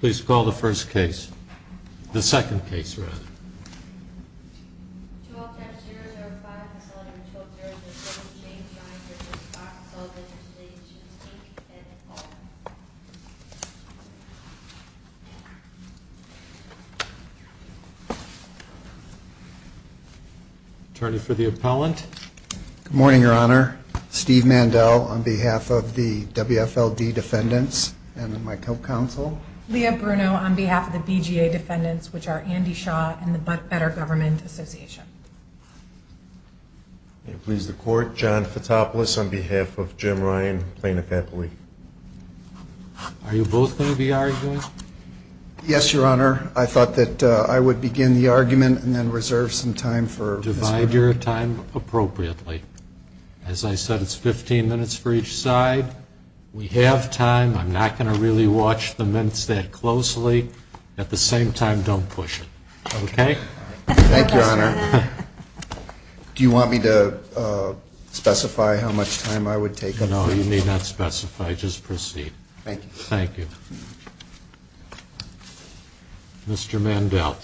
Please call the first case. The second case. Attorney for the appellant. Good morning, Your Honor. Steve Mandel on behalf of the W. F. L. D. Defendants and my co council. Leah Bruno on behalf of the B. G. A. Defendants, which are Andy Shaw and the Better Government Association. May it please the court. John Fotopoulos on behalf of Jim Ryan, plaintiff appellee. Are you both going to be arguing? Yes, Your Honor. I thought that I would begin the argument and then reserve some time for divide your time appropriately. As I said, it's 15 minutes for each side. We have time. I'm not going to really watch the minutes that closely at the same time. Don't push it. Okay. Do you want me to specify how much time I would take? No, you need not specify. Just proceed. Thank you. Mr. Mandel.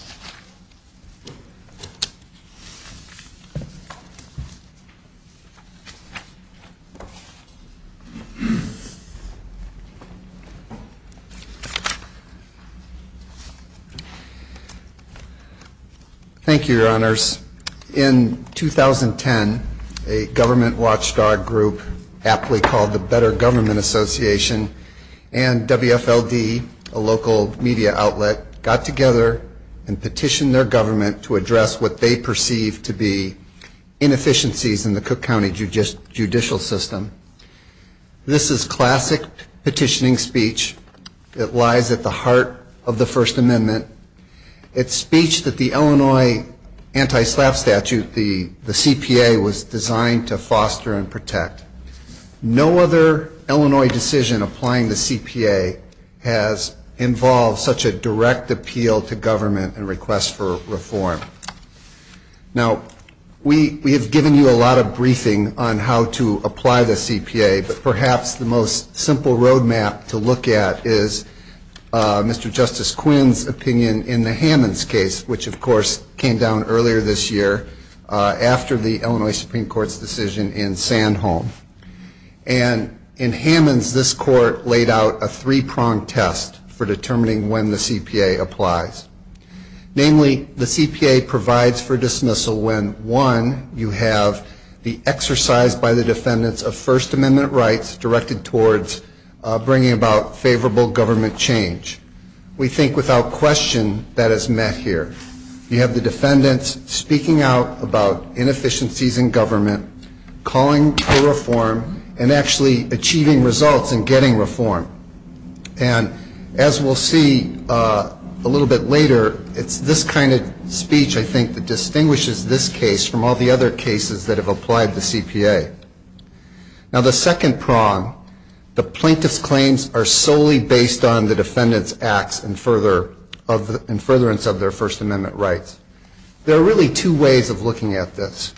Thank you, Your Honors. In 2010, a government watchdog group aptly called the Better Government Association and W. F. L. D., a local media outlet, got together and petitioned their government to address what they perceived to be inefficiencies in the current system. This is classic petitioning speech. It lies at the heart of the First Amendment. It's speech that the Illinois Anti-Slap Statute, the CPA, was designed to foster and protect. No other Illinois decision applying the CPA has involved such a direct appeal to government and request for reform. Now, we have given you a lot of briefing on how to apply the CPA, but perhaps the most simple roadmap to look at is Mr. Justice Quinn's opinion in the Hammonds case, which, of course, came down earlier this year after the Illinois Supreme Court's decision in Sandholm. And in Hammonds, this Court laid out a three-pronged test for determining when the CPA applies. Namely, the CPA provides for dismissal when, one, you have the exercise by the defendants of First Amendment rights directed towards bringing about favorable government change. We think without question that is met here. You have the defendants speaking out about inefficiencies in government, calling for reform, and actually achieving results in getting reform. And as we'll see a little bit later, it's this kind of speech, I think, that distinguishes this case from all the other cases that have applied the CPA. Now, the second prong, the plaintiff's claims are solely based on the defendant's acts and furtherance of their First Amendment rights. There are really two ways of looking at this.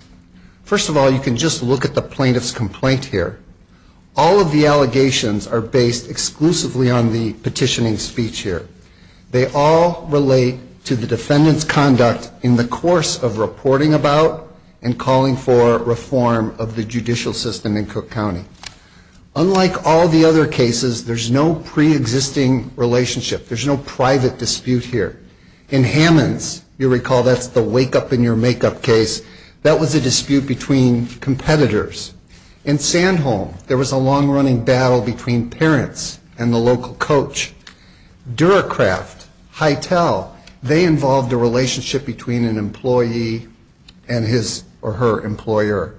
First of all, you can just look at the plaintiff's complaint here. All of the allegations are based exclusively on the petitioning speech here. They all relate to the defendant's conduct in the course of reporting about and calling for reform of the government. Unlike all the other cases, there's no pre-existing relationship. There's no private dispute here. In Hammonds, you'll recall that's the wake-up-in-your-makeup case. That was a dispute between competitors. In Sandholm, there was a long-running battle between parents and the local coach. Duracraft, Hytel, they involved a relationship between an employee and his or her employer.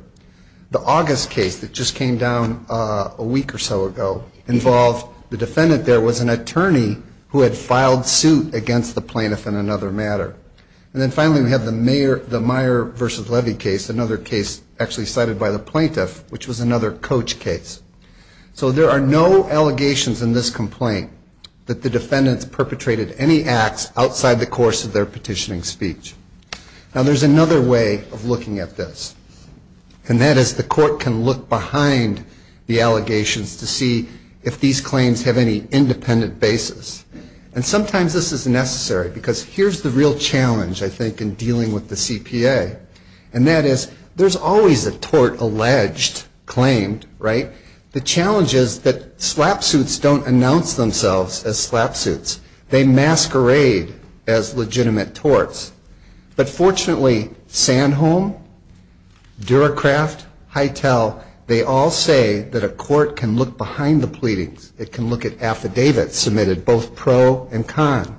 The August case that just came down a week or so ago involved the defendant there was an attorney who had filed suit against the plaintiff in another matter. And then finally, we have the Meyer v. Levy case, another case actually cited by the plaintiff, which was another coach case. So there are no allegations in this complaint that the defendants perpetrated any acts outside the course of their petitioning speech. Now, there's another way of looking at this. And that is the court can look behind the allegations to see if these claims have any independent basis. And sometimes this is necessary, because here's the real challenge, I think, in dealing with the CPA. And that is, there's always a tort alleged, claimed, right? The challenge is that slapsuits don't announce themselves as slapsuits. They masquerade as legitimate torts. But fortunately, Sandholm, Duracraft, Hytel, they all say that a court can look behind the pleadings. It can look at affidavits submitted, both pro and con.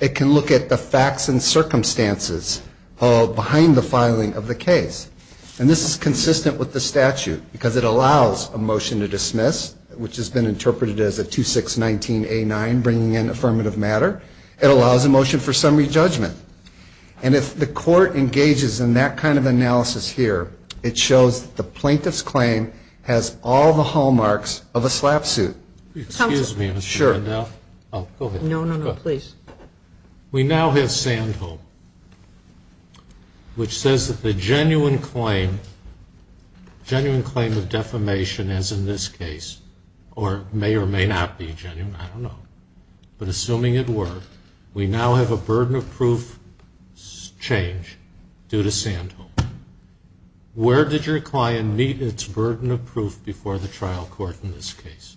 It can look at the facts and circumstances behind the filing of the case. And this is consistent with the statute, because it allows a motion to dismiss, which has been interpreted as a 2619A9, bringing in affirmative matter. It allows a motion for summary judgment. And if the court engages in that kind of analysis here, it shows that the plaintiff's claim has all the hallmarks of a slapsuit. Excuse me, Mr. Vandell. Oh, go ahead. No, no, no, please. We now have Sandholm, which says that the genuine claim, genuine claim of defamation, as in this case, or may or may not be genuine, I don't know, but assuming it were, we now have a burden of proof change due to Sandholm. Where did your client meet its burden of proof before the trial court in this case?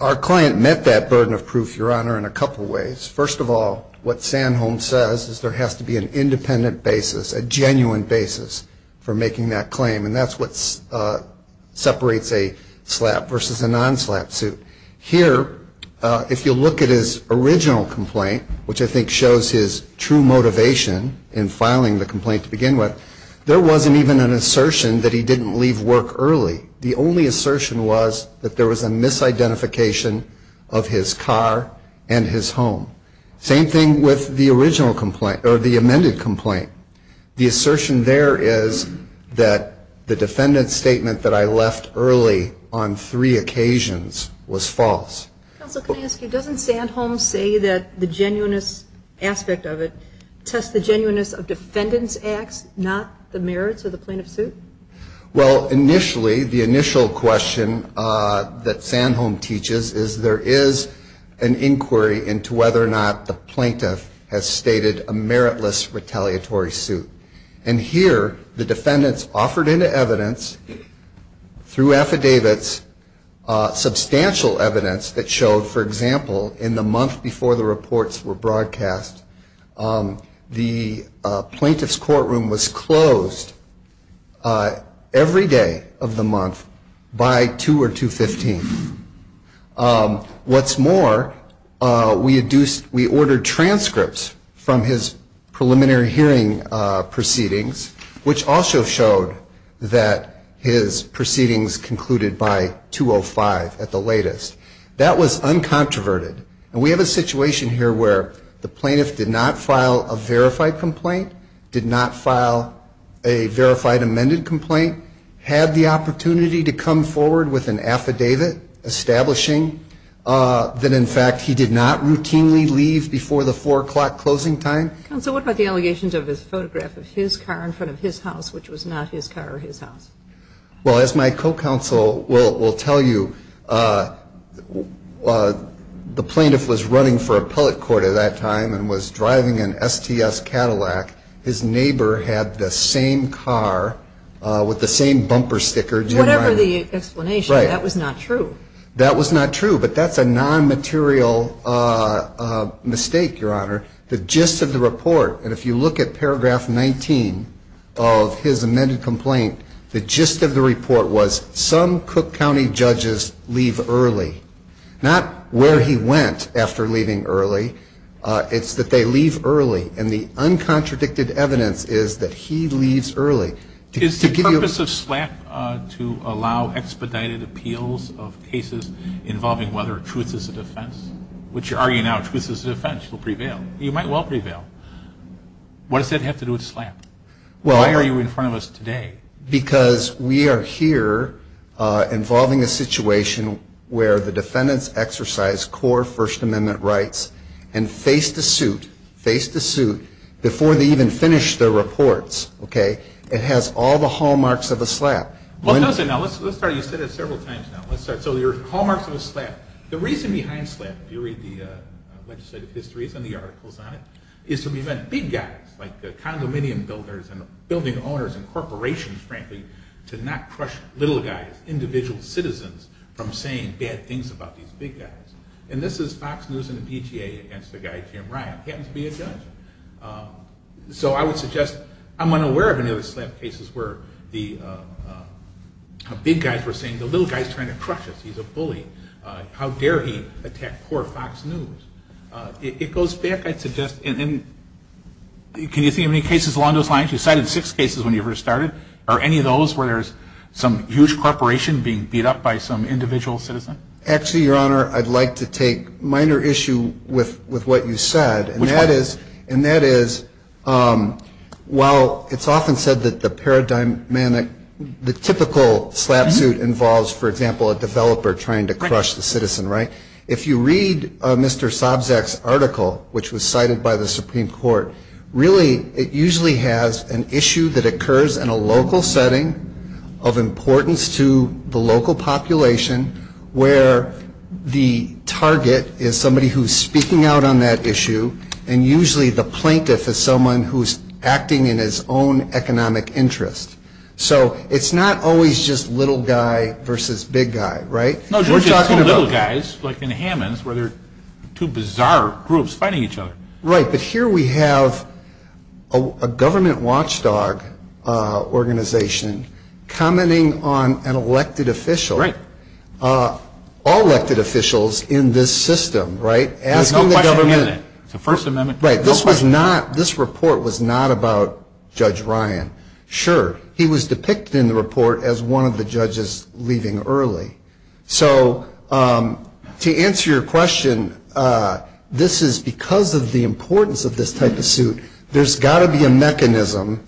Our client met that burden of proof, Your Honor, in a couple ways. First of all, what Sandholm says is there has to be an independent basis, a genuine basis for making that claim. And that's what separates a slap versus a non-slapsuit. Here, if you look at his original complaint, which I think shows his true motivation in filing the complaint to begin with, there wasn't even an assertion that he didn't leave work early. The only assertion was that there was a misidentification of his car and his home. Same thing with the original complaint, or the amended complaint. The assertion there is that the defendant's statement that I left early on three occasions was false. Counsel, can I ask you, doesn't Sandholm say that the genuineness aspect of it tests the genuineness of defendant's acts, not the merits of the plaintiff's suit? Well, initially, the initial question that Sandholm teaches is there is an inquiry into whether or not the plaintiff has stated a meritless retaliatory suit. And here, the defendants offered into evidence, through affidavits, substantial evidence that showed, for example, in the month before the reports were broadcast, the plaintiff's courtroom was closed every day of the month by 2 or 2-15. What's more, we ordered transcripts from his preliminary hearing proceedings, which also showed that his proceedings concluded by 2-05 at the latest. That was uncontroverted. And we have a situation here where the plaintiff did not file a verified complaint, did not file a verified amended complaint, had the opportunity to come forward with an affidavit establishing that, in fact, he did not routinely leave before the 4 o'clock closing time. Counsel, what about the allegations of his photograph of his car in front of his house, which was not his car or his house? Well, as my co-counsel will tell you, the plaintiff was running for appellate court at that time and was driving an STS Cadillac. His neighbor had the same car with the same bumper sticker. Whatever the explanation, that was not true. That was not true, but that's a non-material mistake, Your Honor. The gist of the report, and if you look at paragraph 19 of his amended complaint, the gist of the report was some Cook County judges leave early. Not where he went after leaving early. It's that they leave early. And the uncontradicted evidence is that he leaves early. Is the purpose of SLAPP to allow expedited appeals of cases involving whether truth is a defense, which you're arguing now truth is a defense, will prevail? You might well prevail. What does that have to do with SLAPP? Why are you in front of us today? Because we are here involving a situation where the defendants exercise core First Amendment rights and face the suit, face the suit, before they even finish their reports, okay? It has all the hallmarks of a SLAPP. You said it several times now. So the hallmarks of a SLAPP. The reason behind SLAPP, if you read the legislative histories and the articles on it, is to prevent big guys like the condominium builders and building owners and corporations, frankly, to not crush little guys, individual citizens, from saying bad things about these big guys. And this is Fox News and the PGA against a guy, Jim Ryan. He happens to be a judge. So I would suggest I'm unaware of any other SLAPP cases where the big guys were saying the little guy is trying to crush us. He's a bully. How dare he attack poor Fox News? It goes back, I'd suggest, and can you think of any cases along those lines? You cited six cases when you first started. Are any of those where there's some huge corporation being beat up by some individual citizen? Actually, Your Honor, I'd like to take minor issue with what you said. And that is, while it's often said that the paradigmatic, the typical SLAPP suit involves, for example, a developer trying to crush the citizen, right? If you read Mr. Sobczak's article, which was cited by the Supreme Court, really, it usually has an issue that occurs in a local setting of importance to the local population, where the target is somebody who's speaking out on that issue, and usually the plaintiff is someone who's acting in his own economic interest. So it's not always just little guy versus big guy, right? No, Jim, it's just some little guys, like in Hammonds, where they're two bizarre groups fighting each other. Right, but here we have a government watchdog organization commenting on an elected official. All elected officials in this system, right? There's no question in it. It's a First Amendment case. of this type of suit, there's got to be a mechanism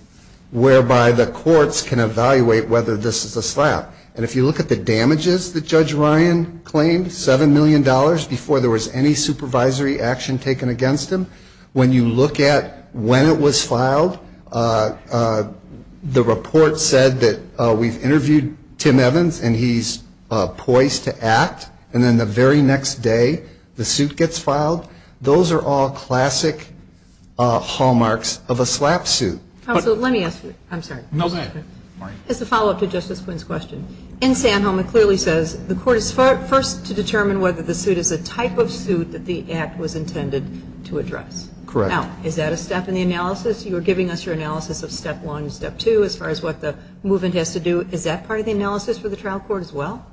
whereby the courts can evaluate whether this is a SLAPP. And if you look at the damages that Judge Ryan claimed, $7 million, before there was any supervisory action taken against him, when you look at when it was filed, the report said that we've interviewed Tim Evans, and he's poised to act, and then the very next day, the suit gets filed. Those are all classic hallmarks of a SLAPP suit. Counsel, let me ask you, I'm sorry. No, go ahead, Maureen. As a follow-up to Justice Quinn's question, in Sandholm, it clearly says the court is first to determine whether the suit is a type of suit that the Act was intended to address. Correct. Now, is that a step in the analysis? You were giving us your analysis of step one and step two, as far as what the movement has to do. Is that part of the analysis for the trial court as well?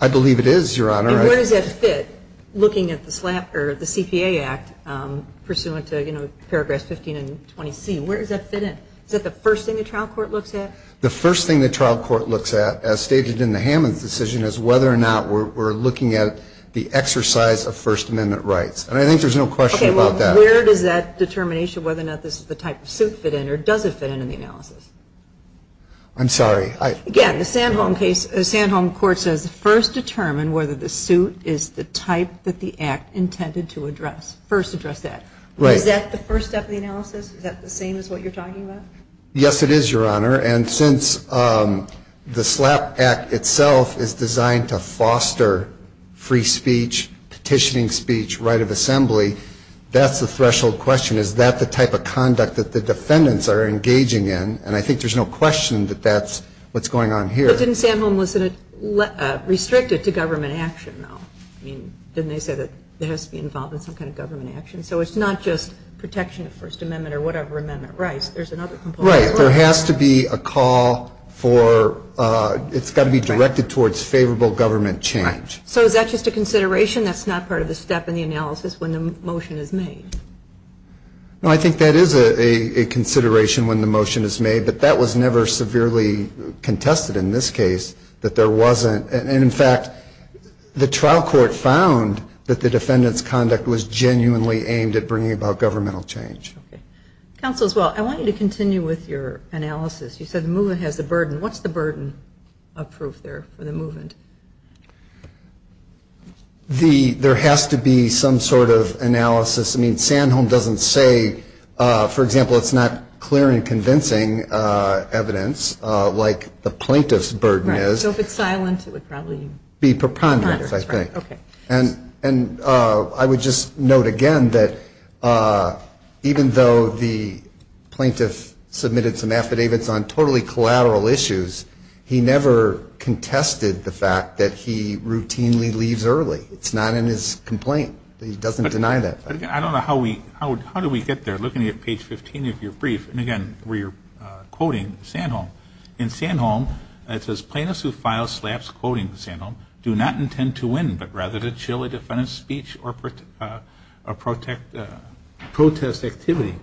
I believe it is, Your Honor. And where does that fit, looking at the CPA Act, pursuant to, you know, paragraphs 15 and 20C? Where does that fit in? Is that the first thing the trial court looks at? The first thing the trial court looks at, as stated in the Hammond's decision, is whether or not we're looking at the exercise of First Amendment rights. And I think there's no question about that. Okay, well, where does that determination of whether or not this is the type of suit fit in, or does it fit in, in the analysis? I'm sorry. Again, the Sandholm case, the Sandholm court says first determine whether the suit is the type that the Act intended to address. First address that. Right. Is that the first step of the analysis? Is that the same as what you're talking about? Yes, it is, Your Honor. And since the SLAPP Act itself is designed to foster free speech, petitioning speech, right of assembly, that's the threshold question. Is that the type of conduct that the defendants are engaging in? And I think there's no question that that's what's going on here. But didn't Sandholm restrict it to government action, though? I mean, didn't they say that it has to be involved in some kind of government action? So it's not just protection of First Amendment or whatever amendment rights. There's another component. Right. There has to be a call for, it's got to be directed towards favorable government change. So is that just a consideration? That's not part of the step in the analysis when the motion is made? No, I think that is a consideration when the motion is made. But that was never severely contested in this case, that there wasn't. And in fact, the trial court found that the defendant's conduct was genuinely aimed at bringing about governmental change. Okay. Counselors, well, I want you to continue with your analysis. You said the movement has the burden. What's the burden of proof there for the movement? There has to be some sort of analysis. I mean, Sandholm doesn't say, for example, it's not clear and convincing evidence like the plaintiff's burden is. Right. So if it's silent, it would probably be better. Be preponderance, I think. That's right. Okay. And I would just note again that even though the plaintiff submitted some affidavits on totally collateral issues, he never contested the fact that he routinely leaves early. It's not in his complaint. He doesn't deny that. I don't know how we get there. Looking at page 15 of your brief, and again, where you're quoting Sandholm. In Sandholm, it says, Plaintiffs who file slaps, quoting Sandholm, do not intend to win, but rather to chill a defendant's speech or protest activity.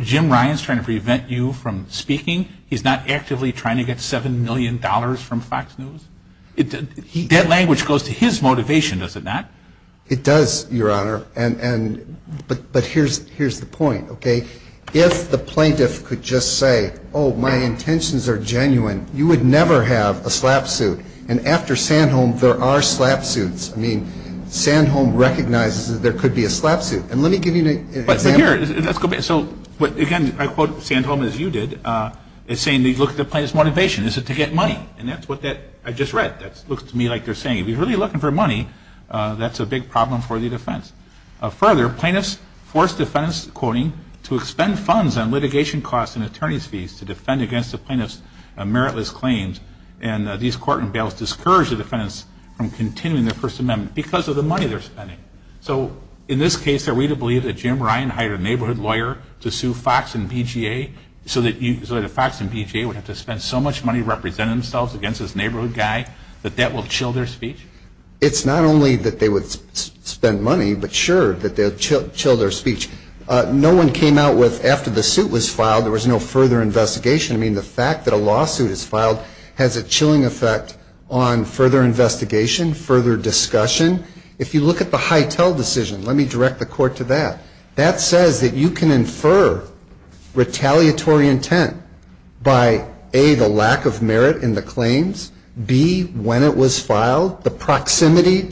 Jim Ryan's trying to prevent you from speaking. He's not actively trying to get $7 million from Fox News. That language goes to his motivation, does it not? It does, Your Honor. But here's the point, okay. If the plaintiff could just say, oh, my intentions are genuine, you would never have a slap suit. And after Sandholm, there are slap suits. I mean, Sandholm recognizes that there could be a slap suit. And let me give you an example. But here, let's go back. So again, I quote Sandholm, as you did. It's saying, look at the plaintiff's motivation. Is it to get money? And that's what I just read. That looks to me like they're saying, if you're really looking for money, that's a big problem for the defense. Further, plaintiffs force defendants, quoting, to expend funds on litigation costs and attorney's fees to defend against the plaintiff's meritless claims. And these courtroom bailiffs discourage the defendants from continuing their First Amendment because of the money they're spending. So in this case, are we to believe that Jim Ryan hired a neighborhood lawyer to sue Fox and BGA, so that Fox and BGA would have to spend so much money representing themselves against this neighborhood guy, that that will chill their speech? It's not only that they would spend money, but sure, that they would chill their speech. No one came out with, after the suit was filed, there was no further investigation. I mean, the fact that a lawsuit is filed has a chilling effect on further investigation, further discussion. If you look at the Hytel decision, let me direct the court to that. That says that you can infer retaliatory intent by, A, the lack of merit in the claims, B, when it was filed, the proximity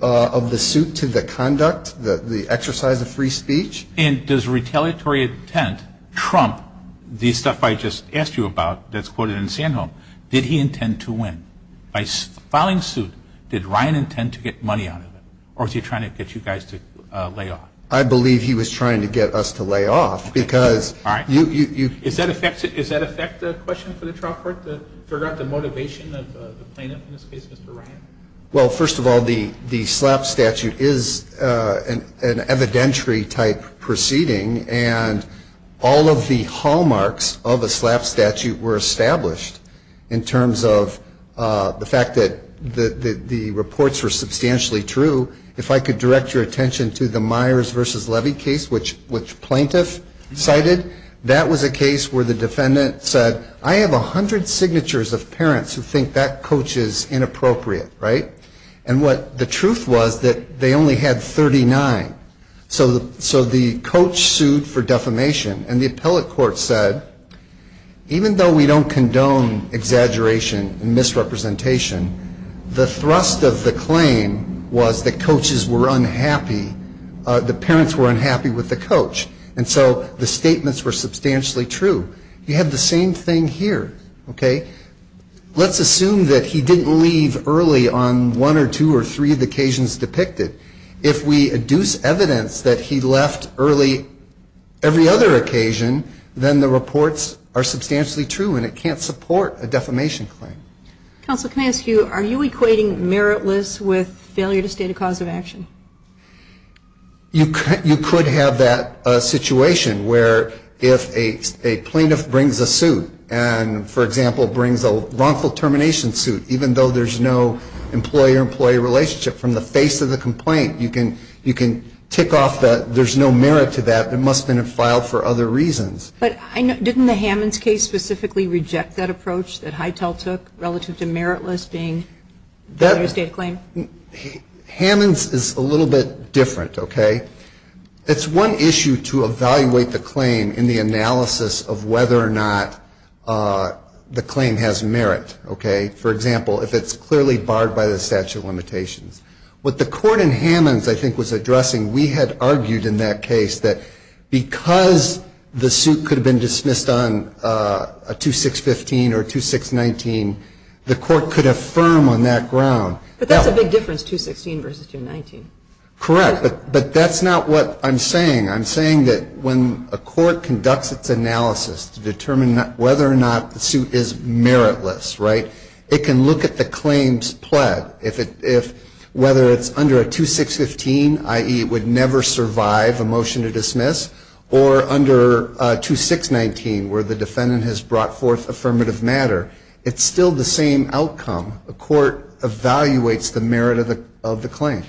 of the suit to the conduct, the exercise of free speech. And does retaliatory intent trump the stuff I just asked you about that's quoted in Sanholm? Did he intend to win? By filing suit, did Ryan intend to get money out of it? Or was he trying to get you guys to lay off? I believe he was trying to get us to lay off. All right. Does that affect the question for the trial court, to figure out the motivation of the plaintiff in this case, Mr. Ryan? Well, first of all, the SLAPP statute is an evidentiary-type proceeding, and all of the hallmarks of a SLAPP statute were established in terms of the fact that the reports were substantially true. If I could direct your attention to the Myers v. Levy case, which plaintiff cited, that was a case where the defendant said, I have 100 signatures of parents who think that coach is inappropriate, right? And what the truth was that they only had 39. So the coach sued for defamation, and the appellate court said, even though we don't condone exaggeration and misrepresentation, the thrust of the claim was that coaches were unhappy, the parents were unhappy with the coach. And so the statements were substantially true. You have the same thing here, okay? Let's assume that he didn't leave early on one or two or three of the occasions depicted. If we adduce evidence that he left early every other occasion, then the reports are substantially true and it can't support a defamation claim. Counsel, can I ask you, are you equating meritless with failure to state a cause of action? You could have that situation where if a plaintiff brings a suit, and, for example, brings a wrongful termination suit, even though there's no employer-employee relationship from the face of the complaint, you can tick off that there's no merit to that. It must have been a file for other reasons. But didn't the Hammons case specifically reject that approach that Hytel took relative to meritless being failure to state a claim? Hammons is a little bit different, okay? It's one issue to evaluate the claim in the analysis of whether or not the claim has merit, okay? For example, if it's clearly barred by the statute of limitations. What the court in Hammons, I think, was addressing, we had argued in that case that because the suit could have been dismissed on 2-6-15 or 2-6-19, the court could affirm on that ground. But that's a big difference, 2-16 versus 2-19. Correct, but that's not what I'm saying. I'm saying that when a court conducts its analysis to determine whether or not the suit is meritless, right, it can look at the claims pled. Whether it's under a 2-6-15, i.e., it would never survive a motion to dismiss, or under 2-6-19 where the defendant has brought forth affirmative matter, it's still the same outcome. A court evaluates the merit of the claim.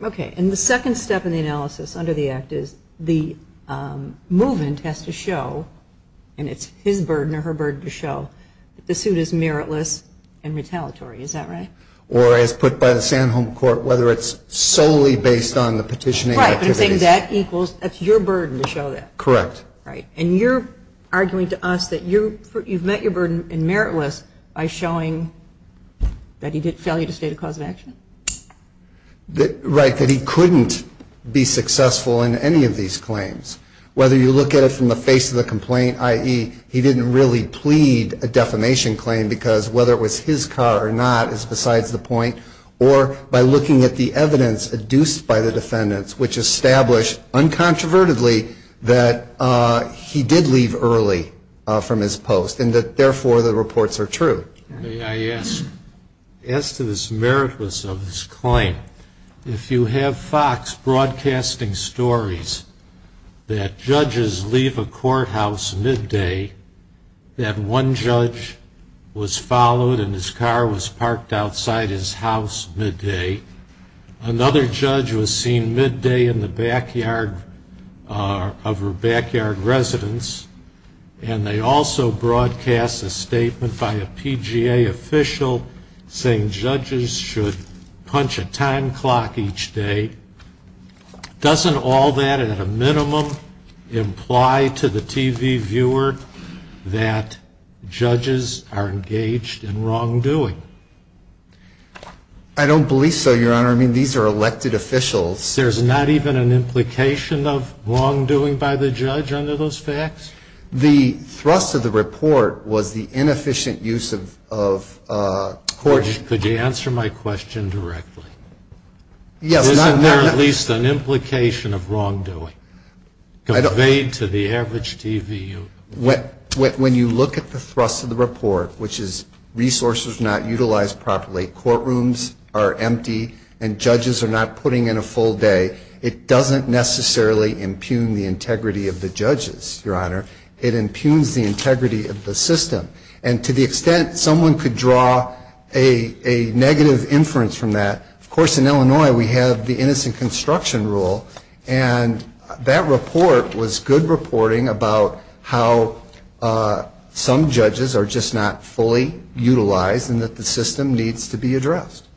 Okay, and the second step in the analysis under the Act is the movement has to show, and it's his burden or her burden to show, that the suit is meritless and retaliatory. Is that right? Or as put by the Sanhome Court, whether it's solely based on the petitioning activities. Right, I'm saying that equals, that's your burden to show that. Correct. Right, and you're arguing to us that you've met your burden in meritless by showing that he did fail you to state a cause of action? Right, that he couldn't be successful in any of these claims. Whether you look at it from the face of the complaint, i.e., he didn't really plead a defamation claim because whether it was his car or not is besides the point, or by looking at the evidence adduced by the defendants which established uncontrovertedly that he did leave early from his post and that, therefore, the reports are true. May I ask? As to this meritless of his claim, if you have Fox broadcasting stories that judges leave a courthouse midday, that one judge was followed and his car was parked outside his house midday, another judge was seen midday in the backyard of her backyard residence, and they also broadcast a statement by a PGA official saying judges should punch a time clock each day, doesn't all that at a minimum imply to the TV viewer that judges are engaged in wrongdoing? I don't believe so, Your Honor. I mean, these are elected officials. There's not even an implication of wrongdoing by the judge under those facts? The thrust of the report was the inefficient use of court. Could you answer my question directly? Yes. Isn't there at least an implication of wrongdoing conveyed to the average TV user? When you look at the thrust of the report, which is resources not utilized properly, courtrooms are empty and judges are not putting in a full day, it doesn't necessarily impugn the integrity of the judges, Your Honor. It impugns the integrity of the system. And to the extent someone could draw a negative inference from that, of course, in Illinois we have the innocent construction rule, and that report was good reporting about how some judges are just not fully utilized and that the system needs to be addressed.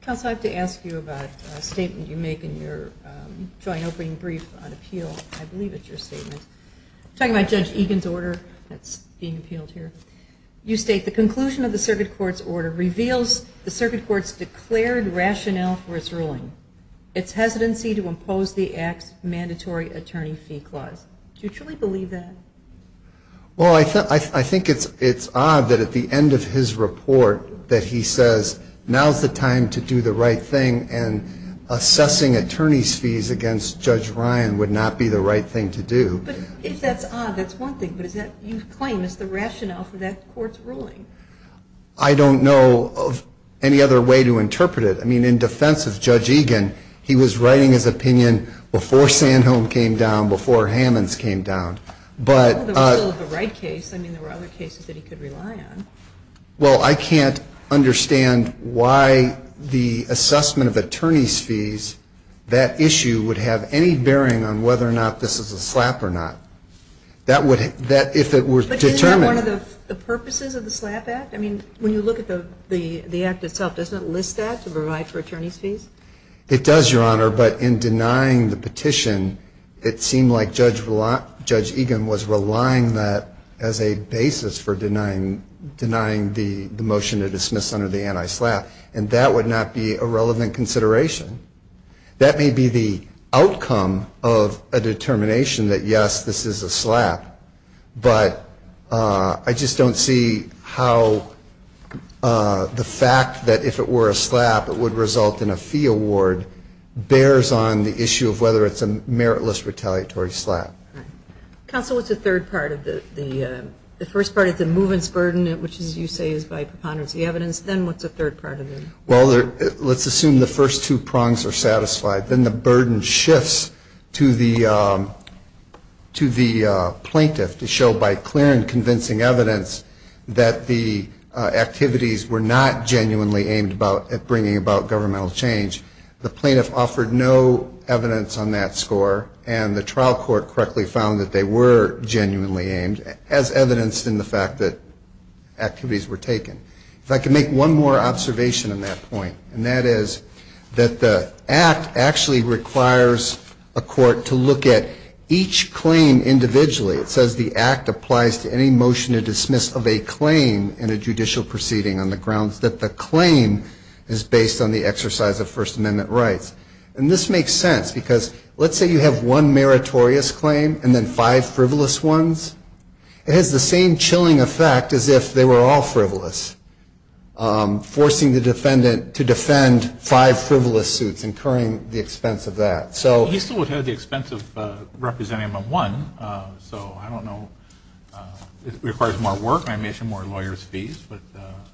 Counsel, I have to ask you about a statement you make in your joint opening brief on appeal. I believe it's your statement. You're talking about Judge Egan's order that's being appealed here. You state, The conclusion of the circuit court's order reveals the circuit court's declared rationale for its ruling, its hesitancy to impose the act's mandatory attorney fee clause. Do you truly believe that? Well, I think it's odd that at the end of his report that he says, Now's the time to do the right thing, and assessing attorney's fees against Judge Ryan would not be the right thing to do. But if that's odd, that's one thing. But you claim it's the rationale for that court's ruling. I don't know of any other way to interpret it. I mean, in defense of Judge Egan, he was writing his opinion before Sandholm came down, before Hammonds came down. Well, there was still the Wright case. I mean, there were other cases that he could rely on. Well, I can't understand why the assessment of attorney's fees, that issue would have any bearing on whether or not this is a SLAP or not. That would, if it were determined. But isn't that one of the purposes of the SLAP Act? I mean, when you look at the act itself, doesn't it list that to provide for attorney's fees? It does, Your Honor, but in denying the petition, it seemed like Judge Egan was relying that as a basis for denying the motion to dismiss under the anti-SLAP. And that would not be a relevant consideration. That may be the outcome of a determination that, yes, this is a SLAP, but I just don't see how the fact that, if it were a SLAP, it would result in a fee award, bears on the issue of whether it's a meritless retaliatory SLAP. Counsel, what's the third part of the – the first part is the movements burden, which, as you say, is by preponderance of the evidence. Then what's the third part of it? Well, let's assume the first two prongs are satisfied. Then the burden shifts to the plaintiff to show by clear and convincing evidence that the activities were not genuinely aimed at bringing about governmental change. The plaintiff offered no evidence on that score, and the trial court correctly found that they were genuinely aimed, as evidenced in the fact that activities were taken. If I could make one more observation on that point, and that is that the Act actually requires a court to look at each claim individually. It says the Act applies to any motion to dismiss of a claim in a judicial proceeding on the grounds that the claim is based on the exercise of First Amendment rights. And this makes sense, because let's say you have one meritorious claim and then five frivolous ones. It has the same chilling effect as if they were all frivolous, forcing the defendant to defend five frivolous suits, incurring the expense of that. He still would have the expense of representing them on one, so I don't know if it requires more work. I mentioned more lawyers' fees.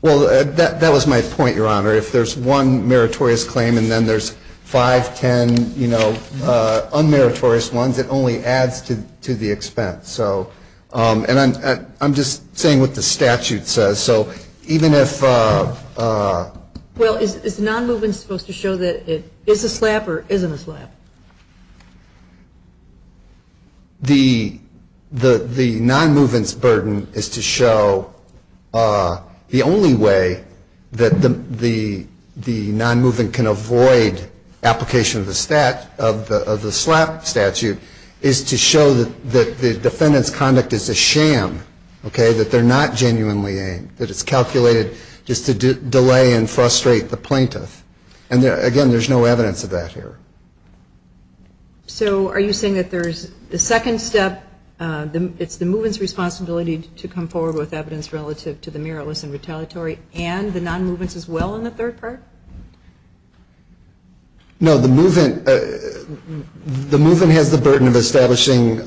Well, that was my point, Your Honor. If there's one meritorious claim and then there's five, ten unmeritorious ones, it only adds to the expense. I'm just saying what the statute says. Well, is non-movement supposed to show that it is a slap or isn't a slap? The non-movement's burden is to show the only way that the non-movement can avoid application of the slap statute is to show that the defendant's conduct is a sham, that they're not genuinely aimed, that it's calculated just to delay and frustrate the plaintiff. And again, there's no evidence of that here. So are you saying that there's the second step, it's the movement's responsibility to come forward with evidence relative to the meritorious and retaliatory and the non-movement's as well in the third part? No. The movement has the burden of establishing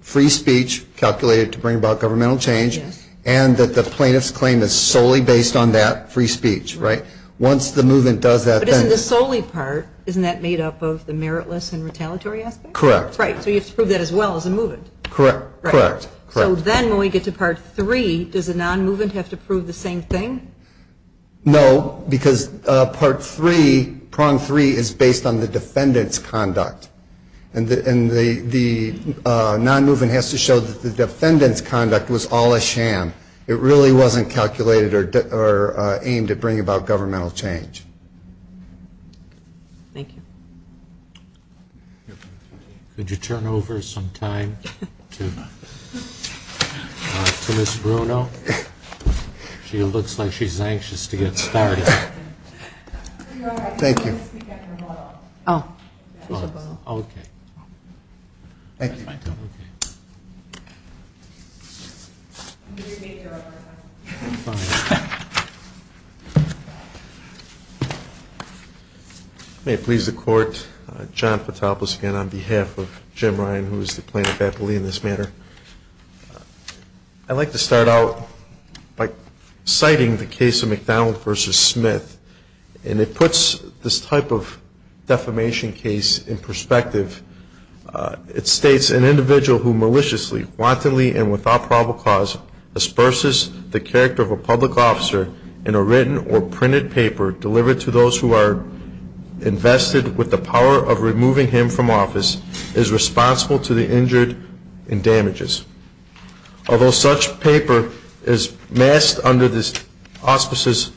free speech calculated to bring about governmental change and that the plaintiff's claim is solely based on that free speech, right? Once the movement does that, then... But isn't the solely part, isn't that made up of the meritless and retaliatory aspect? Correct. Right. So you have to prove that as well as the movement. Correct. Correct. So then when we get to Part 3, does the non-movement have to prove the same thing? No, because Part 3, Prong 3, is based on the defendant's conduct. And the non-movement has to show that the defendant's conduct was all a sham. It really wasn't calculated or aimed to bring about governmental change. Thank you. Could you turn over some time to Ms. Bruno? She looks like she's anxious to get started. Thank you. Oh. Okay. Thank you. May it please the Court, John Pataplos again on behalf of Jim Ryan, who is the plaintiff's affiliate in this matter. I'd like to start out by citing the case of McDowell v. Smith. And it puts this type of defamation case in perspective. It states, An individual who maliciously, wantonly, and without probable cause, disburses the character of a public officer in a written or printed paper delivered to those who are invested with the power of removing him from office is responsible to the injured and damages. Although such paper is masked under this auspices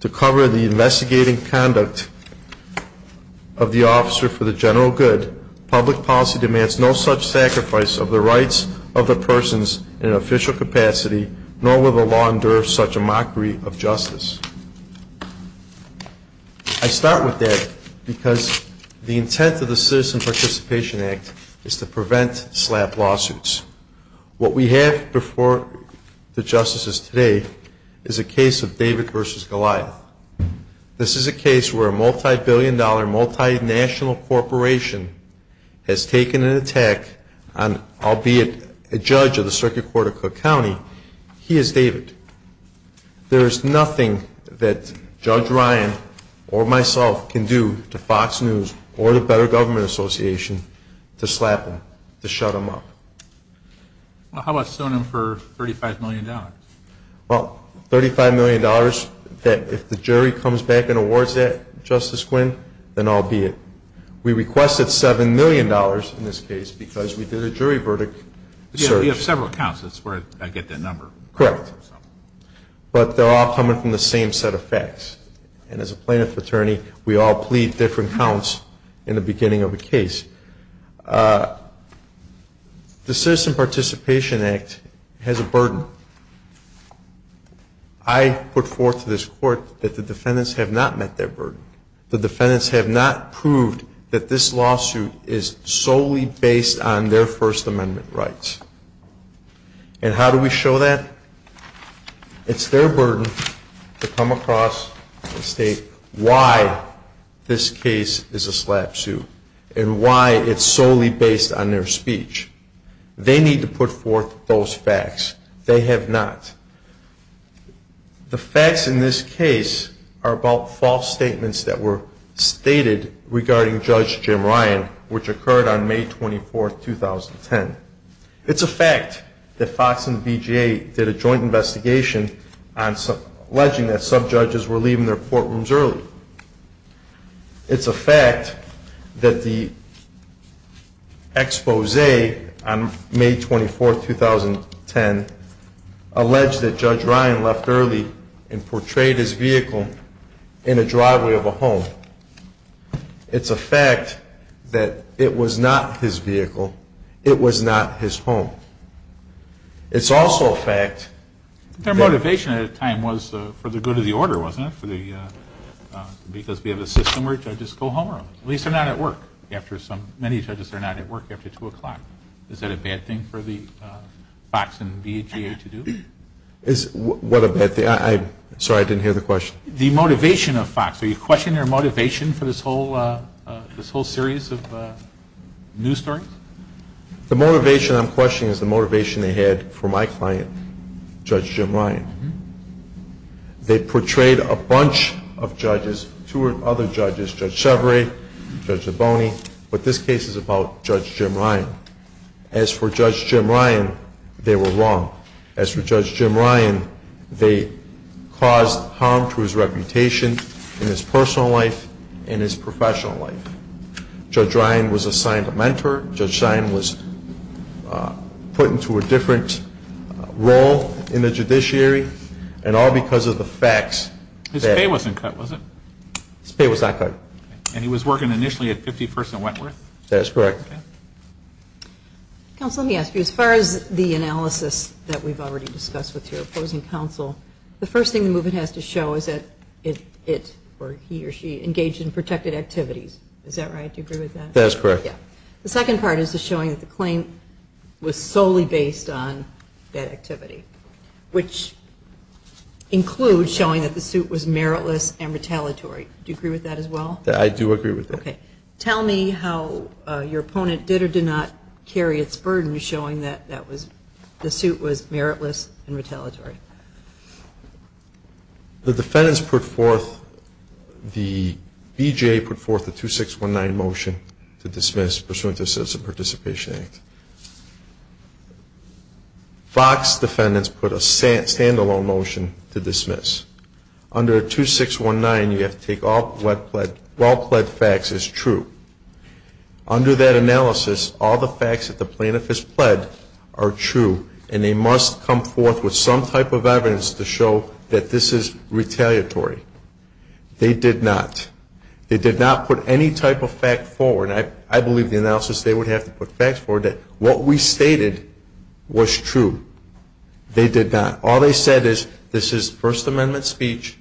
to cover the investigating conduct of the officer for the general good, public policy demands no such sacrifice of the rights of the persons in official capacity, nor will the law endure such a mockery of justice. I start with that because the intent of the Citizen Participation Act is to prevent slap lawsuits. What we have before the justices today is a case of David v. Goliath. This is a case where a multibillion dollar multinational corporation has taken an attack on, albeit a judge of the circuit court of Cook County, he is David. There is nothing that Judge Ryan or myself can do to Fox News or the Better Government Association to slap him, to shut him up. Well, how about suing him for $35 million? Well, $35 million that if the jury comes back and awards that, Justice Quinn, then I'll be it. We requested $7 million in this case because we did a jury verdict. You have several counts, that's where I get that number. Correct. But they're all coming from the same set of facts. And as a plaintiff attorney, we all plead different counts in the beginning of a case. The Citizen Participation Act has a burden. I put forth to this court that the defendants have not met their burden. The defendants have not proved that this lawsuit is solely based on their First Amendment rights. And how do we show that? It's their burden to come across and state why this case is a slap suit and why it's solely based on their speech. They need to put forth those facts. They have not. The facts in this case are about false statements that were stated regarding Judge Jim Ryan, which occurred on May 24, 2010. It's a fact that FOX and the BJA did a joint investigation alleging that some judges were leaving their courtrooms early. It's a fact that the expose on May 24, 2010, alleged that Judge Ryan left early and portrayed his vehicle in a driveway of a home. It's a fact that it was not his vehicle. It was not his home. It's also a fact... Their motivation at the time was for the good of the order, wasn't it? Because we have a system where judges go home early. At least they're not at work. Many judges are not at work after 2 o'clock. Is that a bad thing for FOX and BJA to do? What a bad thing? Sorry, I didn't hear the question. The motivation of FOX. Are you questioning their motivation for this whole series of news stories? The motivation I'm questioning is the motivation they had for my client, Judge Jim Ryan. They portrayed a bunch of judges. Two other judges, Judge Severi, Judge Laboni. But this case is about Judge Jim Ryan. As for Judge Jim Ryan, they were wrong. As for Judge Jim Ryan, they caused harm to his reputation in his personal life and his professional life. Judge Ryan was assigned a mentor. Judge Ryan was put into a different role in the judiciary. And all because of the facts. His pay wasn't cut, was it? His pay was not cut. And he was working initially at 51st and Wentworth? That's correct. Counsel, let me ask you. As far as the analysis that we've already discussed with your opposing counsel, the first thing the movement has to show is that it, or he or she, engaged in protected activities. Is that right? Do you agree with that? That is correct. The second part is showing that the claim was solely based on that activity. Which includes showing that the suit was meritless and retaliatory. Do you agree with that as well? I do agree with that. Tell me how your opponent did or did not carry its burden showing that the suit was meritless and retaliatory. The defendants put forth, the BJA put forth the 2619 motion to dismiss pursuant to the Citizen Participation Act. Fox defendants put a stand-alone motion to dismiss. Under 2619, you have to take all well-pled facts as true. Under that analysis, all the facts that the plaintiff has pled are true and they must come forth with some type of evidence to show that this is retaliatory. They did not. They did not put any type of fact forward. I believe the analysis they would have to put facts forward that what we stated was true. They did not. All they said is this is First Amendment speech,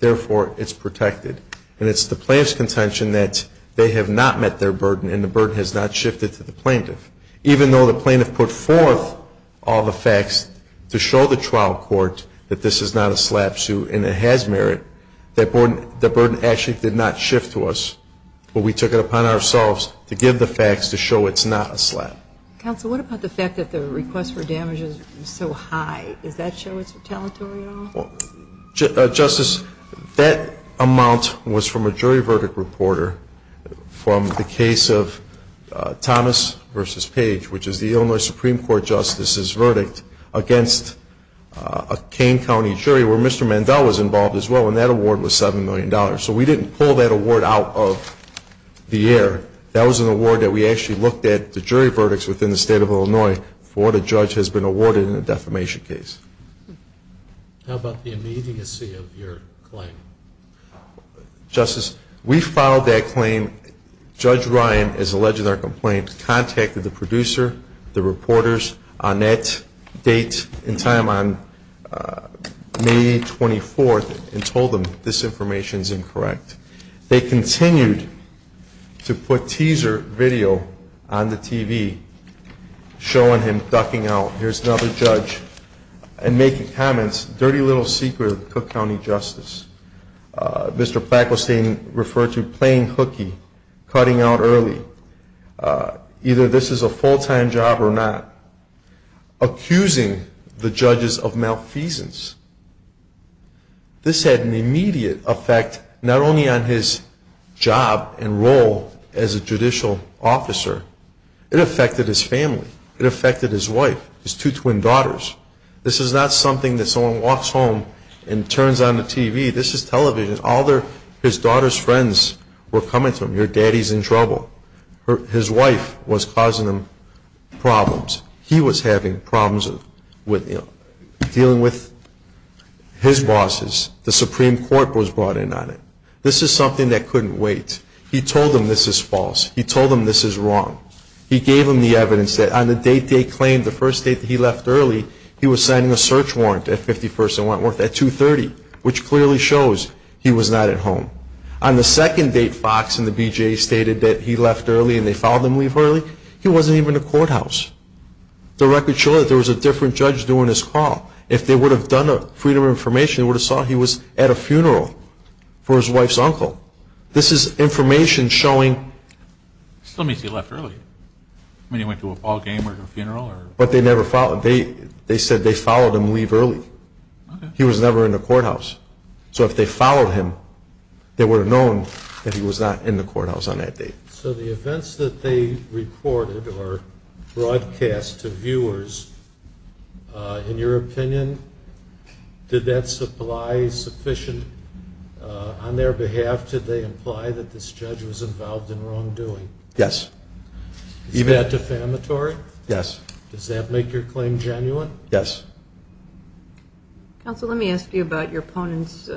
therefore it's protected. And it's the plaintiff's contention that they have not met their burden and the burden has not shifted to the plaintiff. Even though the plaintiff put forth all the facts to show the trial court that this is not a slap suit and it has merit, the burden actually did not shift to us, but we took it upon ourselves to give the facts to show it's not a slap. Counsel, what about the fact that the request for damages is so high? Does that show it's retaliatory at all? Justice, that amount was from a jury verdict reporter from the case of Thomas v. Page, which is the Illinois Supreme Court Justice's verdict against a Kane County jury where Mr. Mandel was involved as well and that award was $7 million. So we didn't pull that award out of the air. That was an award that we actually looked at the jury verdicts within the state of Illinois for what a judge has been awarded in a defamation case. How about the immediacy of your claim? Justice, we filed that claim. Judge Ryan, as alleged in our complaint, contacted the producer, the reporters, on that date and time on May 24th and told them this information is incorrect. They continued to put teaser video on the TV showing him ducking out, here's another judge, and making comments, dirty little secret of the Cook County Justice. Mr. Placostain referred to playing hooky, cutting out early. Either this is a full-time job or not. Accusing the judges of malfeasance. This had an immediate effect, not only on his job and role as a judicial officer, it affected his family. It affected his wife, his two twin daughters. This is not something that someone walks home and turns on the TV. This is television. All his daughter's friends were coming to him. Your daddy's in trouble. His wife was causing him problems. He was having problems dealing with his bosses. The Supreme Court was brought in on it. This is something that couldn't wait. He told them this is false. He told them this is wrong. He gave them the evidence that on the date they claimed, the first date that he left early, he was signing a search warrant at 51st and Wentworth at 2.30, which clearly shows he was not at home. On the second date, Fox and the BJA stated that he left early and they filed him to leave early. He wasn't even in the courthouse. The records show that there was a different judge doing his call. If they would have done a Freedom of Information, they would have saw he was at a funeral for his wife's uncle. This is information showing... It still means he left early. You mean he went to a ball game or a funeral? They said they followed him to leave early. He was never in the courthouse. So if they followed him, they would have known that he was not in the courthouse on that date. So the events that they reported or broadcast to viewers, in your opinion, did that supply sufficient... On their behalf, did they imply that this judge was involved in wrongdoing? Yes. Is that defamatory? Yes. Does that make your claim genuine? Yes. Counsel, let me ask you about your opponent's...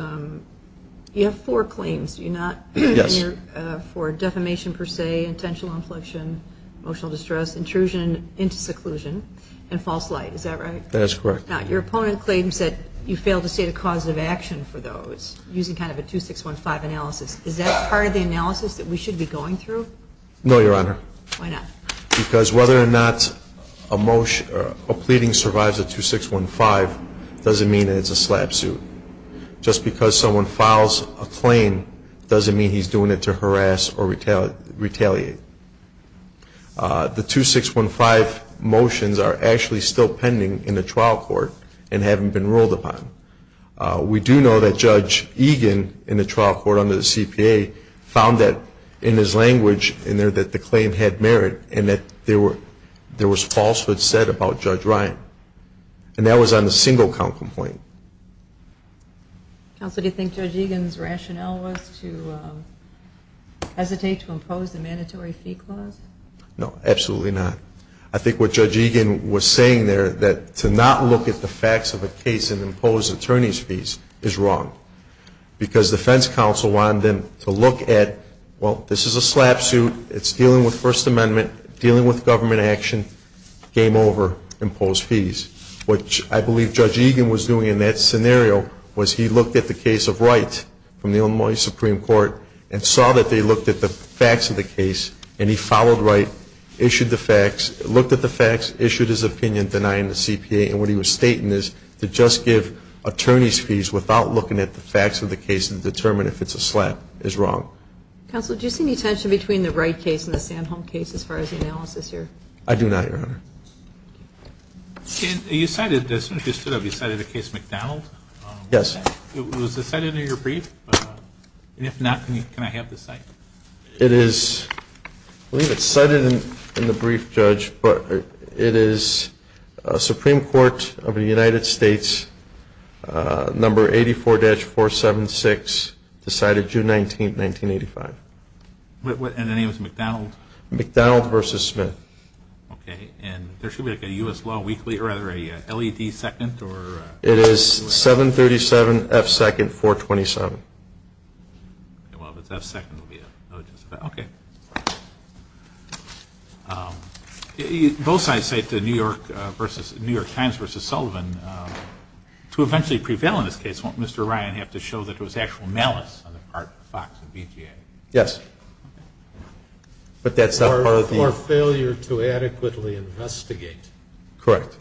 You have four claims, do you not? Yes. For defamation per se, intentional infliction, emotional distress, intrusion into seclusion, and false light, is that right? That is correct. Now, your opponent claims that you failed to state a cause of action for those using kind of a 2615 analysis. If not, a pleading survives a 2615 doesn't mean it's a slap suit. Just because someone files a claim doesn't mean he's doing it to harass or retaliate. The 2615 motions are actually still pending in the trial court and haven't been ruled upon. We do know that Judge Egan in the trial court under the CPA found that in his language that the claim had merit and that there was falsehood said about Judge Ryan. And that was on a single count complaint. Counsel, do you think Judge Egan's rationale was to hesitate to impose the mandatory fee clause? No, absolutely not. I think what Judge Egan was saying there that to not look at the facts of a case and impose attorney's fees is wrong. Because defense counsel wanted them to look at, well, this is a slap suit, it's dealing with First Amendment, dealing with government action, game over, impose fees. Which I believe Judge Egan was doing in that scenario was he looked at the case of Wright from the Illinois Supreme Court and saw that they looked at the facts of the case and he followed Wright, issued the facts, looked at the facts, issued his opinion denying the CPA and what he was stating is to just give attorney's fees without looking at the facts of the case and not look at the facts of the case. So you agree with that? I do not, Your Honor. You cited, as soon as you stood up, you cited a case, McDonald. Yes. Was it cited in your brief? And if not, can I have the cite? It is, I believe it's cited in the brief, Judge, but it is Supreme Court of the United States number 84-476 decided June 19, 1985. And the name is McDonald? McDonald v. Smith. Okay, and there should be like a U.S. Law Weekly, or rather a LED Second, or? It is 737 F. Second 427. Okay, well, if it's F. Second, it'll be just about, okay. Both sides cite the New York versus, New York Times versus Sullivan to eventually prevail in this case. Won't Mr. Ryan have to show that there was actual malice on the part of Fox and BGA? Yes. But that's not part of the... Or failure to adequately investigate. Correct.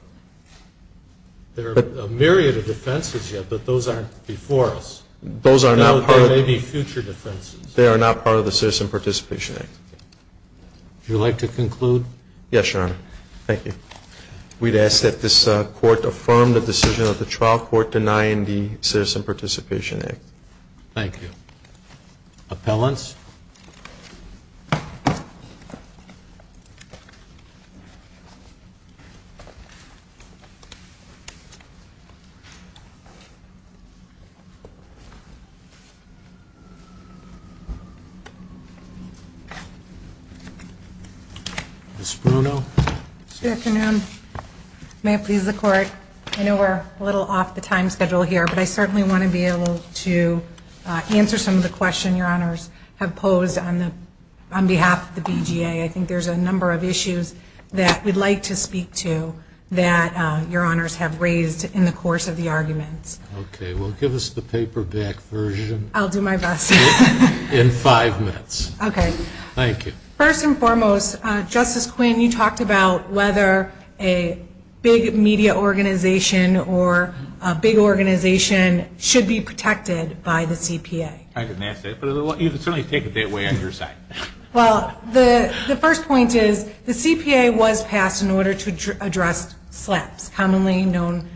There are a myriad of defenses yet, but those aren't before us. Those are not part of... No, they may be future defenses. They are not part of the Citizen Participation Act. Would you like to conclude? Yes, Your Honor. Thank you. We'd ask that this Court affirm the decision of the trial court denying the Citizen Participation Act. Thank you. Appellants. Ms. Bruno. Good afternoon. May it please the Court, I know we're a little off the time schedule here, but I certainly want to be able to answer some of the questions Your Honors have posed on behalf of the BGA. I think there's a number of issues that we'd like to speak to that Your Honors have raised in the course of the arguments. Okay, well give us the paperback version. I'll do my best. In five minutes. Okay. Thank you. First and foremost, Justice Quinn, you talked about whether a big media organization or a big organization should be protected by the CPA. I didn't ask that, but you can certainly take it that way on your side. Well, the first point is the CPA was passed in order to address SLAPs, commonly known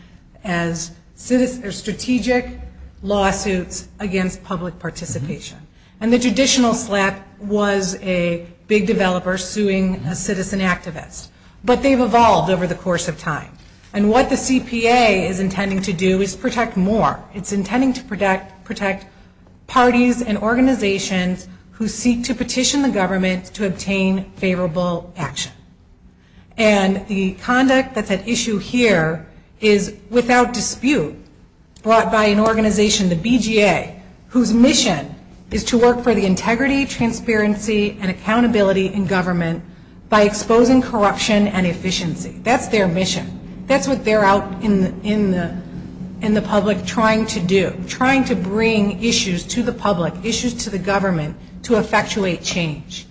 as strategic lawsuits against public participation. And the traditional SLAP was a big developer suing a citizen activist. But they've evolved over the course of time. And what the CPA is intending to do is protect more. It's intending to protect parties and organizations who seek to petition the government to obtain favorable action. And the conduct that's at issue here is without dispute brought by an organization, the BGA, whose mission is to work for the integrity, transparency, and accountability in government by exposing corruption and efficiency. That's their mission. That's what they're out in the public trying to do, trying to bring issues to the public, issues to the government to effectuate change.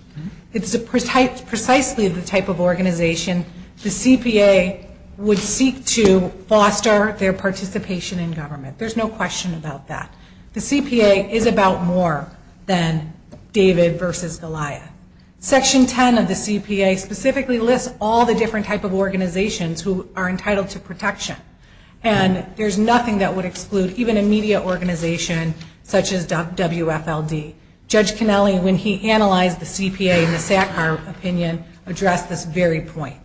It's precisely the type of organization the CPA would seek to foster their participation in government. There's no question about that. The CPA is about more than David versus Goliath. Section 10 of the CPA specifically lists all the different type of organizations who are entitled to protection. And there's nothing that would exclude even a media organization such as WFLD. Judge Kennelly, when he analyzed the CPA and the SACAR opinion, addressed this very point.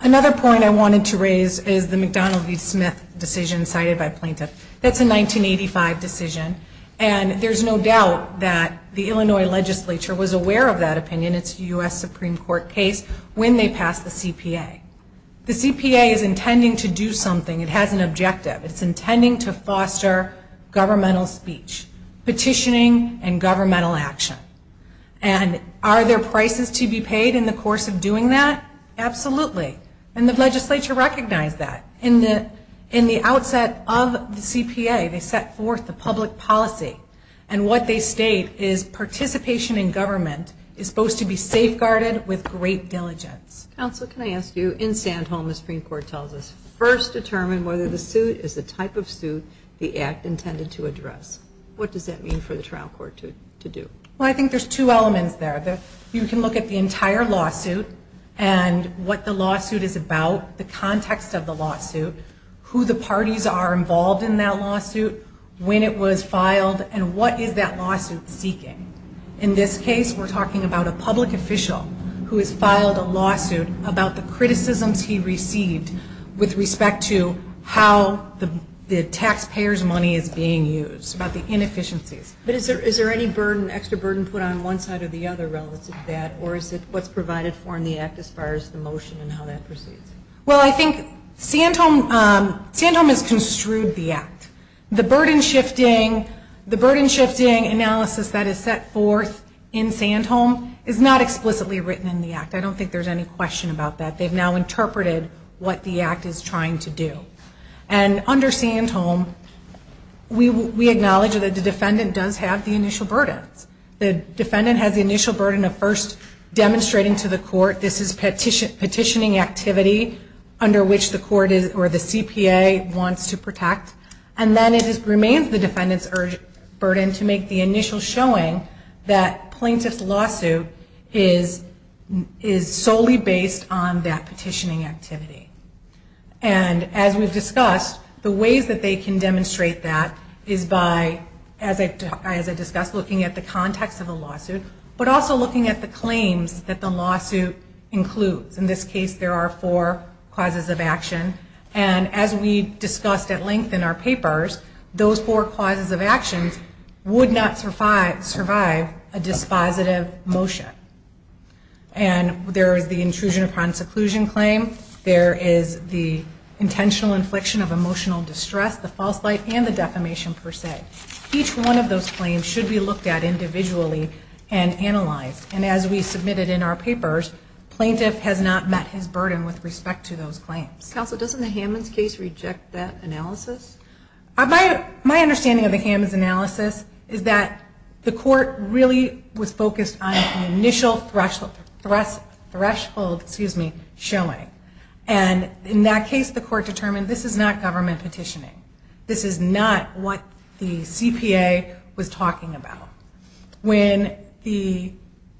Another point I wanted to raise is the McDonald v. Smith decision cited by plaintiffs. That's a 1985 decision. And there's no doubt that the Illinois legislature was aware of that opinion, it's a U.S. Supreme Court case, when they passed the CPA. The CPA is intending to do something. It has an objective. It's intending to foster governmental speech, petitioning, and governmental action. And are there prices to be paid in the course of doing that? Absolutely. And the legislature recognized that. In the outset of the CPA, they set forth a public policy. And what they state is participation in government is supposed to be safeguarded with great diligence. Counsel, can I ask you, in Sandholm, the Supreme Court tells us, first determine whether the suit is the type of suit the Act intended to address. What does that mean for the trial court to do? Well, I think there's two elements there. You can look at the entire lawsuit and what the lawsuit is about, the context of the lawsuit, who the parties are involved in that lawsuit, when it was filed, and what is that lawsuit seeking. In this case, we're talking about a public official who has filed a lawsuit about the criticisms he received with respect to how the taxpayer's money is being used, about the inefficiencies. But is there any burden, extra burden put on one side or the other relative to that? Or is it what's provided for in the Act as far as the motion and how that proceeds? Well, I think Sandhome has construed the Act. The burden shifting analysis that is set forth in Sandhome is not explicitly written in the Act. I don't think there's any question about that. They've now interpreted what the Act is trying to do. And under Sandhome, we acknowledge that the defendant does have the initial burdens. The defendant has the initial burden of first demonstrating to the court this is petitioning activity under which the court or the wants to protect. And then it remains the defendant's burden to make the initial showing that plaintiff's lawsuit is solely based on that petitioning activity. And as we've discussed, the ways that they can demonstrate that is by as I discussed looking at the context of the lawsuit but also looking at the claims that the lawsuit includes. In this case, there are four causes of action. And as we discussed at length in our papers, those four causes of include the initial infliction of emotional distress, the false life, and the defamation per se. Each one of those claims should be looked at individually and analyzed. And as we submitted in our papers, plaintiff has not met his standards. And this is not government petitioning. This is not what the CPA was talking about. When the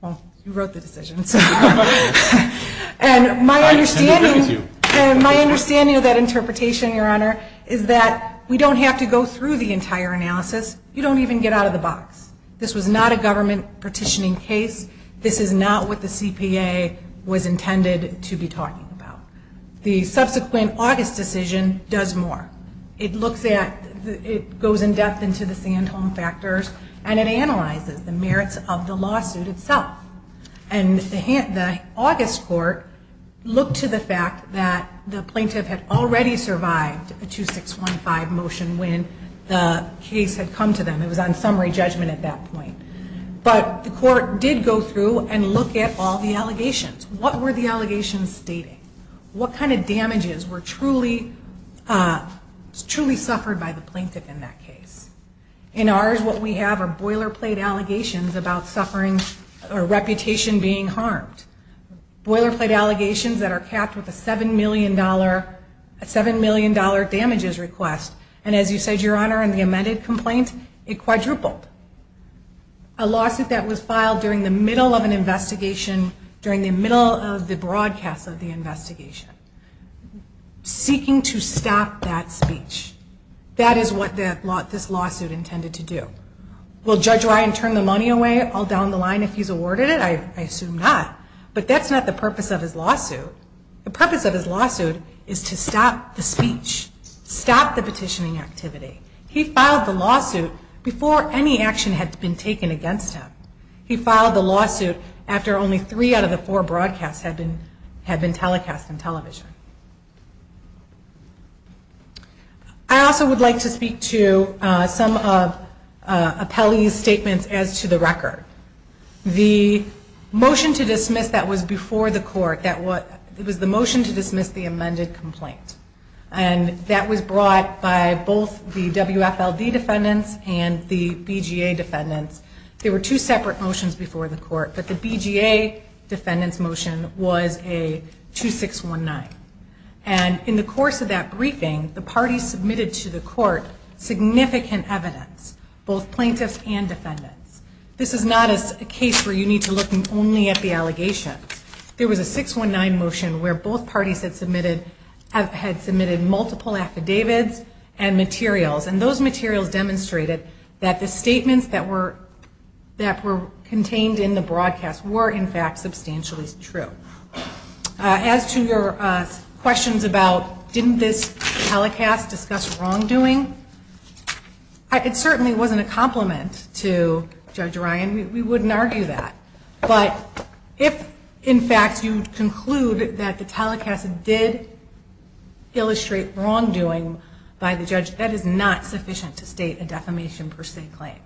well, you wrote the decisions. And my understanding of that interpretation, your honor, is that we don't have to go through the entire analysis. You don't even get out of the box. This was not a government petitioning case. This is not what the CPA was intended to be talking about. The subsequent August decision does more. It goes in depth into the case. It was on summary judgment at that point. But the court did go through and look at all the allegations. What were the allegations stating? What kind of damages were truly suffered by the plaintiff in that case? In ours, we have boilerplate allegations about reputation being harmed. Boilerplate allegations that are capped with a $7 million damages request. As you said, it quadrupled. A lawsuit filed during the middle of the investigation. Seeking to stop that speech. That is what this lawsuit intended to do. Will Judge Ryan turn the money away if he's awarded it? I assume not. But that's not the purpose of his lawsuit. The purpose of his lawsuit is to stop the speech, stop the petitioning activity. He filed the lawsuit before any court. I also would like to speak to some of the statements as to the record. The motion to dismiss that was before the court was the motion to dismiss the amended complaint. That was brought by both the WFLD defendants and the BGA defendants. There were two separate motions before the court. But the BGA defendants motion was a 2619. And in the course of that briefing, the parties submitted to the court significant evidence, both plaintiffs and defendants. This is not a case where you need to look only at the allegations. There was a 619 motion where both parties had submitted multiple affidavits and those materials demonstrated that the statements that were contained in the broadcast were in fact substantially true. As to your questions about didn't this telecast discuss wrongdoing, it certainly wasn't a compliment to Judge Ryan. We that wrongdoing is not sufficient to state a defamation per se claim.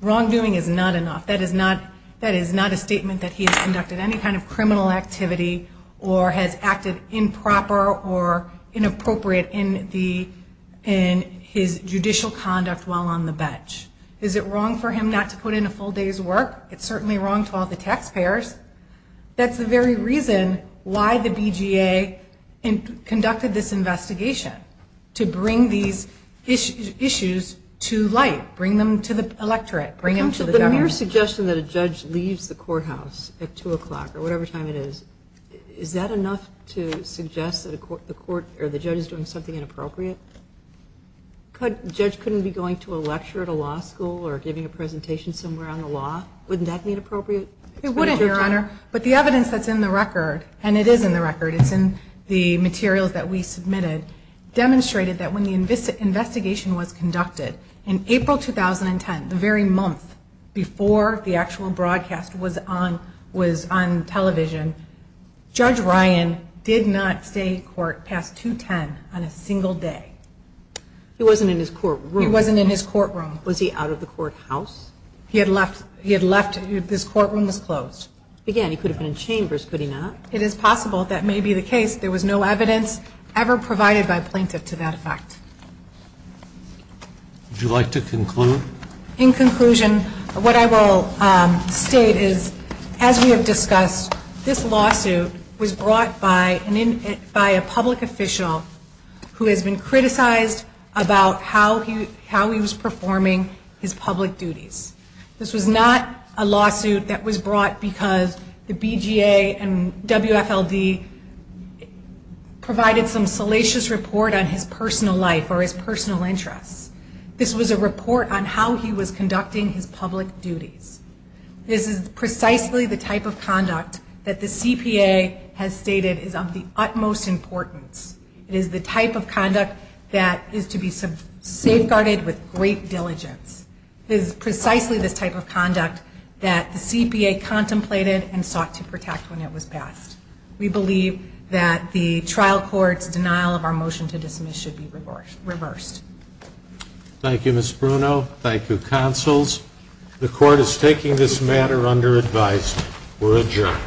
Wrongdoing is not enough. That is not a statement that he has conducted any kind of criminal activity or has acted improper or inappropriate in his judicial conduct while on the bench. Is it not enough to suggest that the court or the judge is doing something inappropriate? The judge couldn't be lecture at a law school or giving a presentation somewhere on the law? Wouldn't that be inappropriate? It wouldn't, Your Honor, but the evidence in the record demonstrated that when the investigation was conducted in April 2010, the very month before the broadcast was on television, Judge Ryan did not stay in court past 2 10 on a single day. He wasn't in his courtroom. Was he out of the courtroom? Again, he could have been in chambers. Could he not? It is possible that may be the case. There was no evidence ever provided by plaintiff to that effect. Would you like to conclude? In conclusion, what I will state is as we have discussed, this lawsuit was brought by a public official who has been criticized about how he was performing his public duties. This was not a lawsuit that was brought because the BGA and WFLD provided some report on his personal life. This was a report on how he was conducting his public duties. This is precisely the type of conduct that the CPA has stated is of the utmost importance. It is the type of conduct that is to be safeguarded with great diligence. It is precisely this type of conduct that the CPA contemplated and sought to protect when it was passed. We believe that the trial is now closed. Any issues matter under advice. We're adjourned.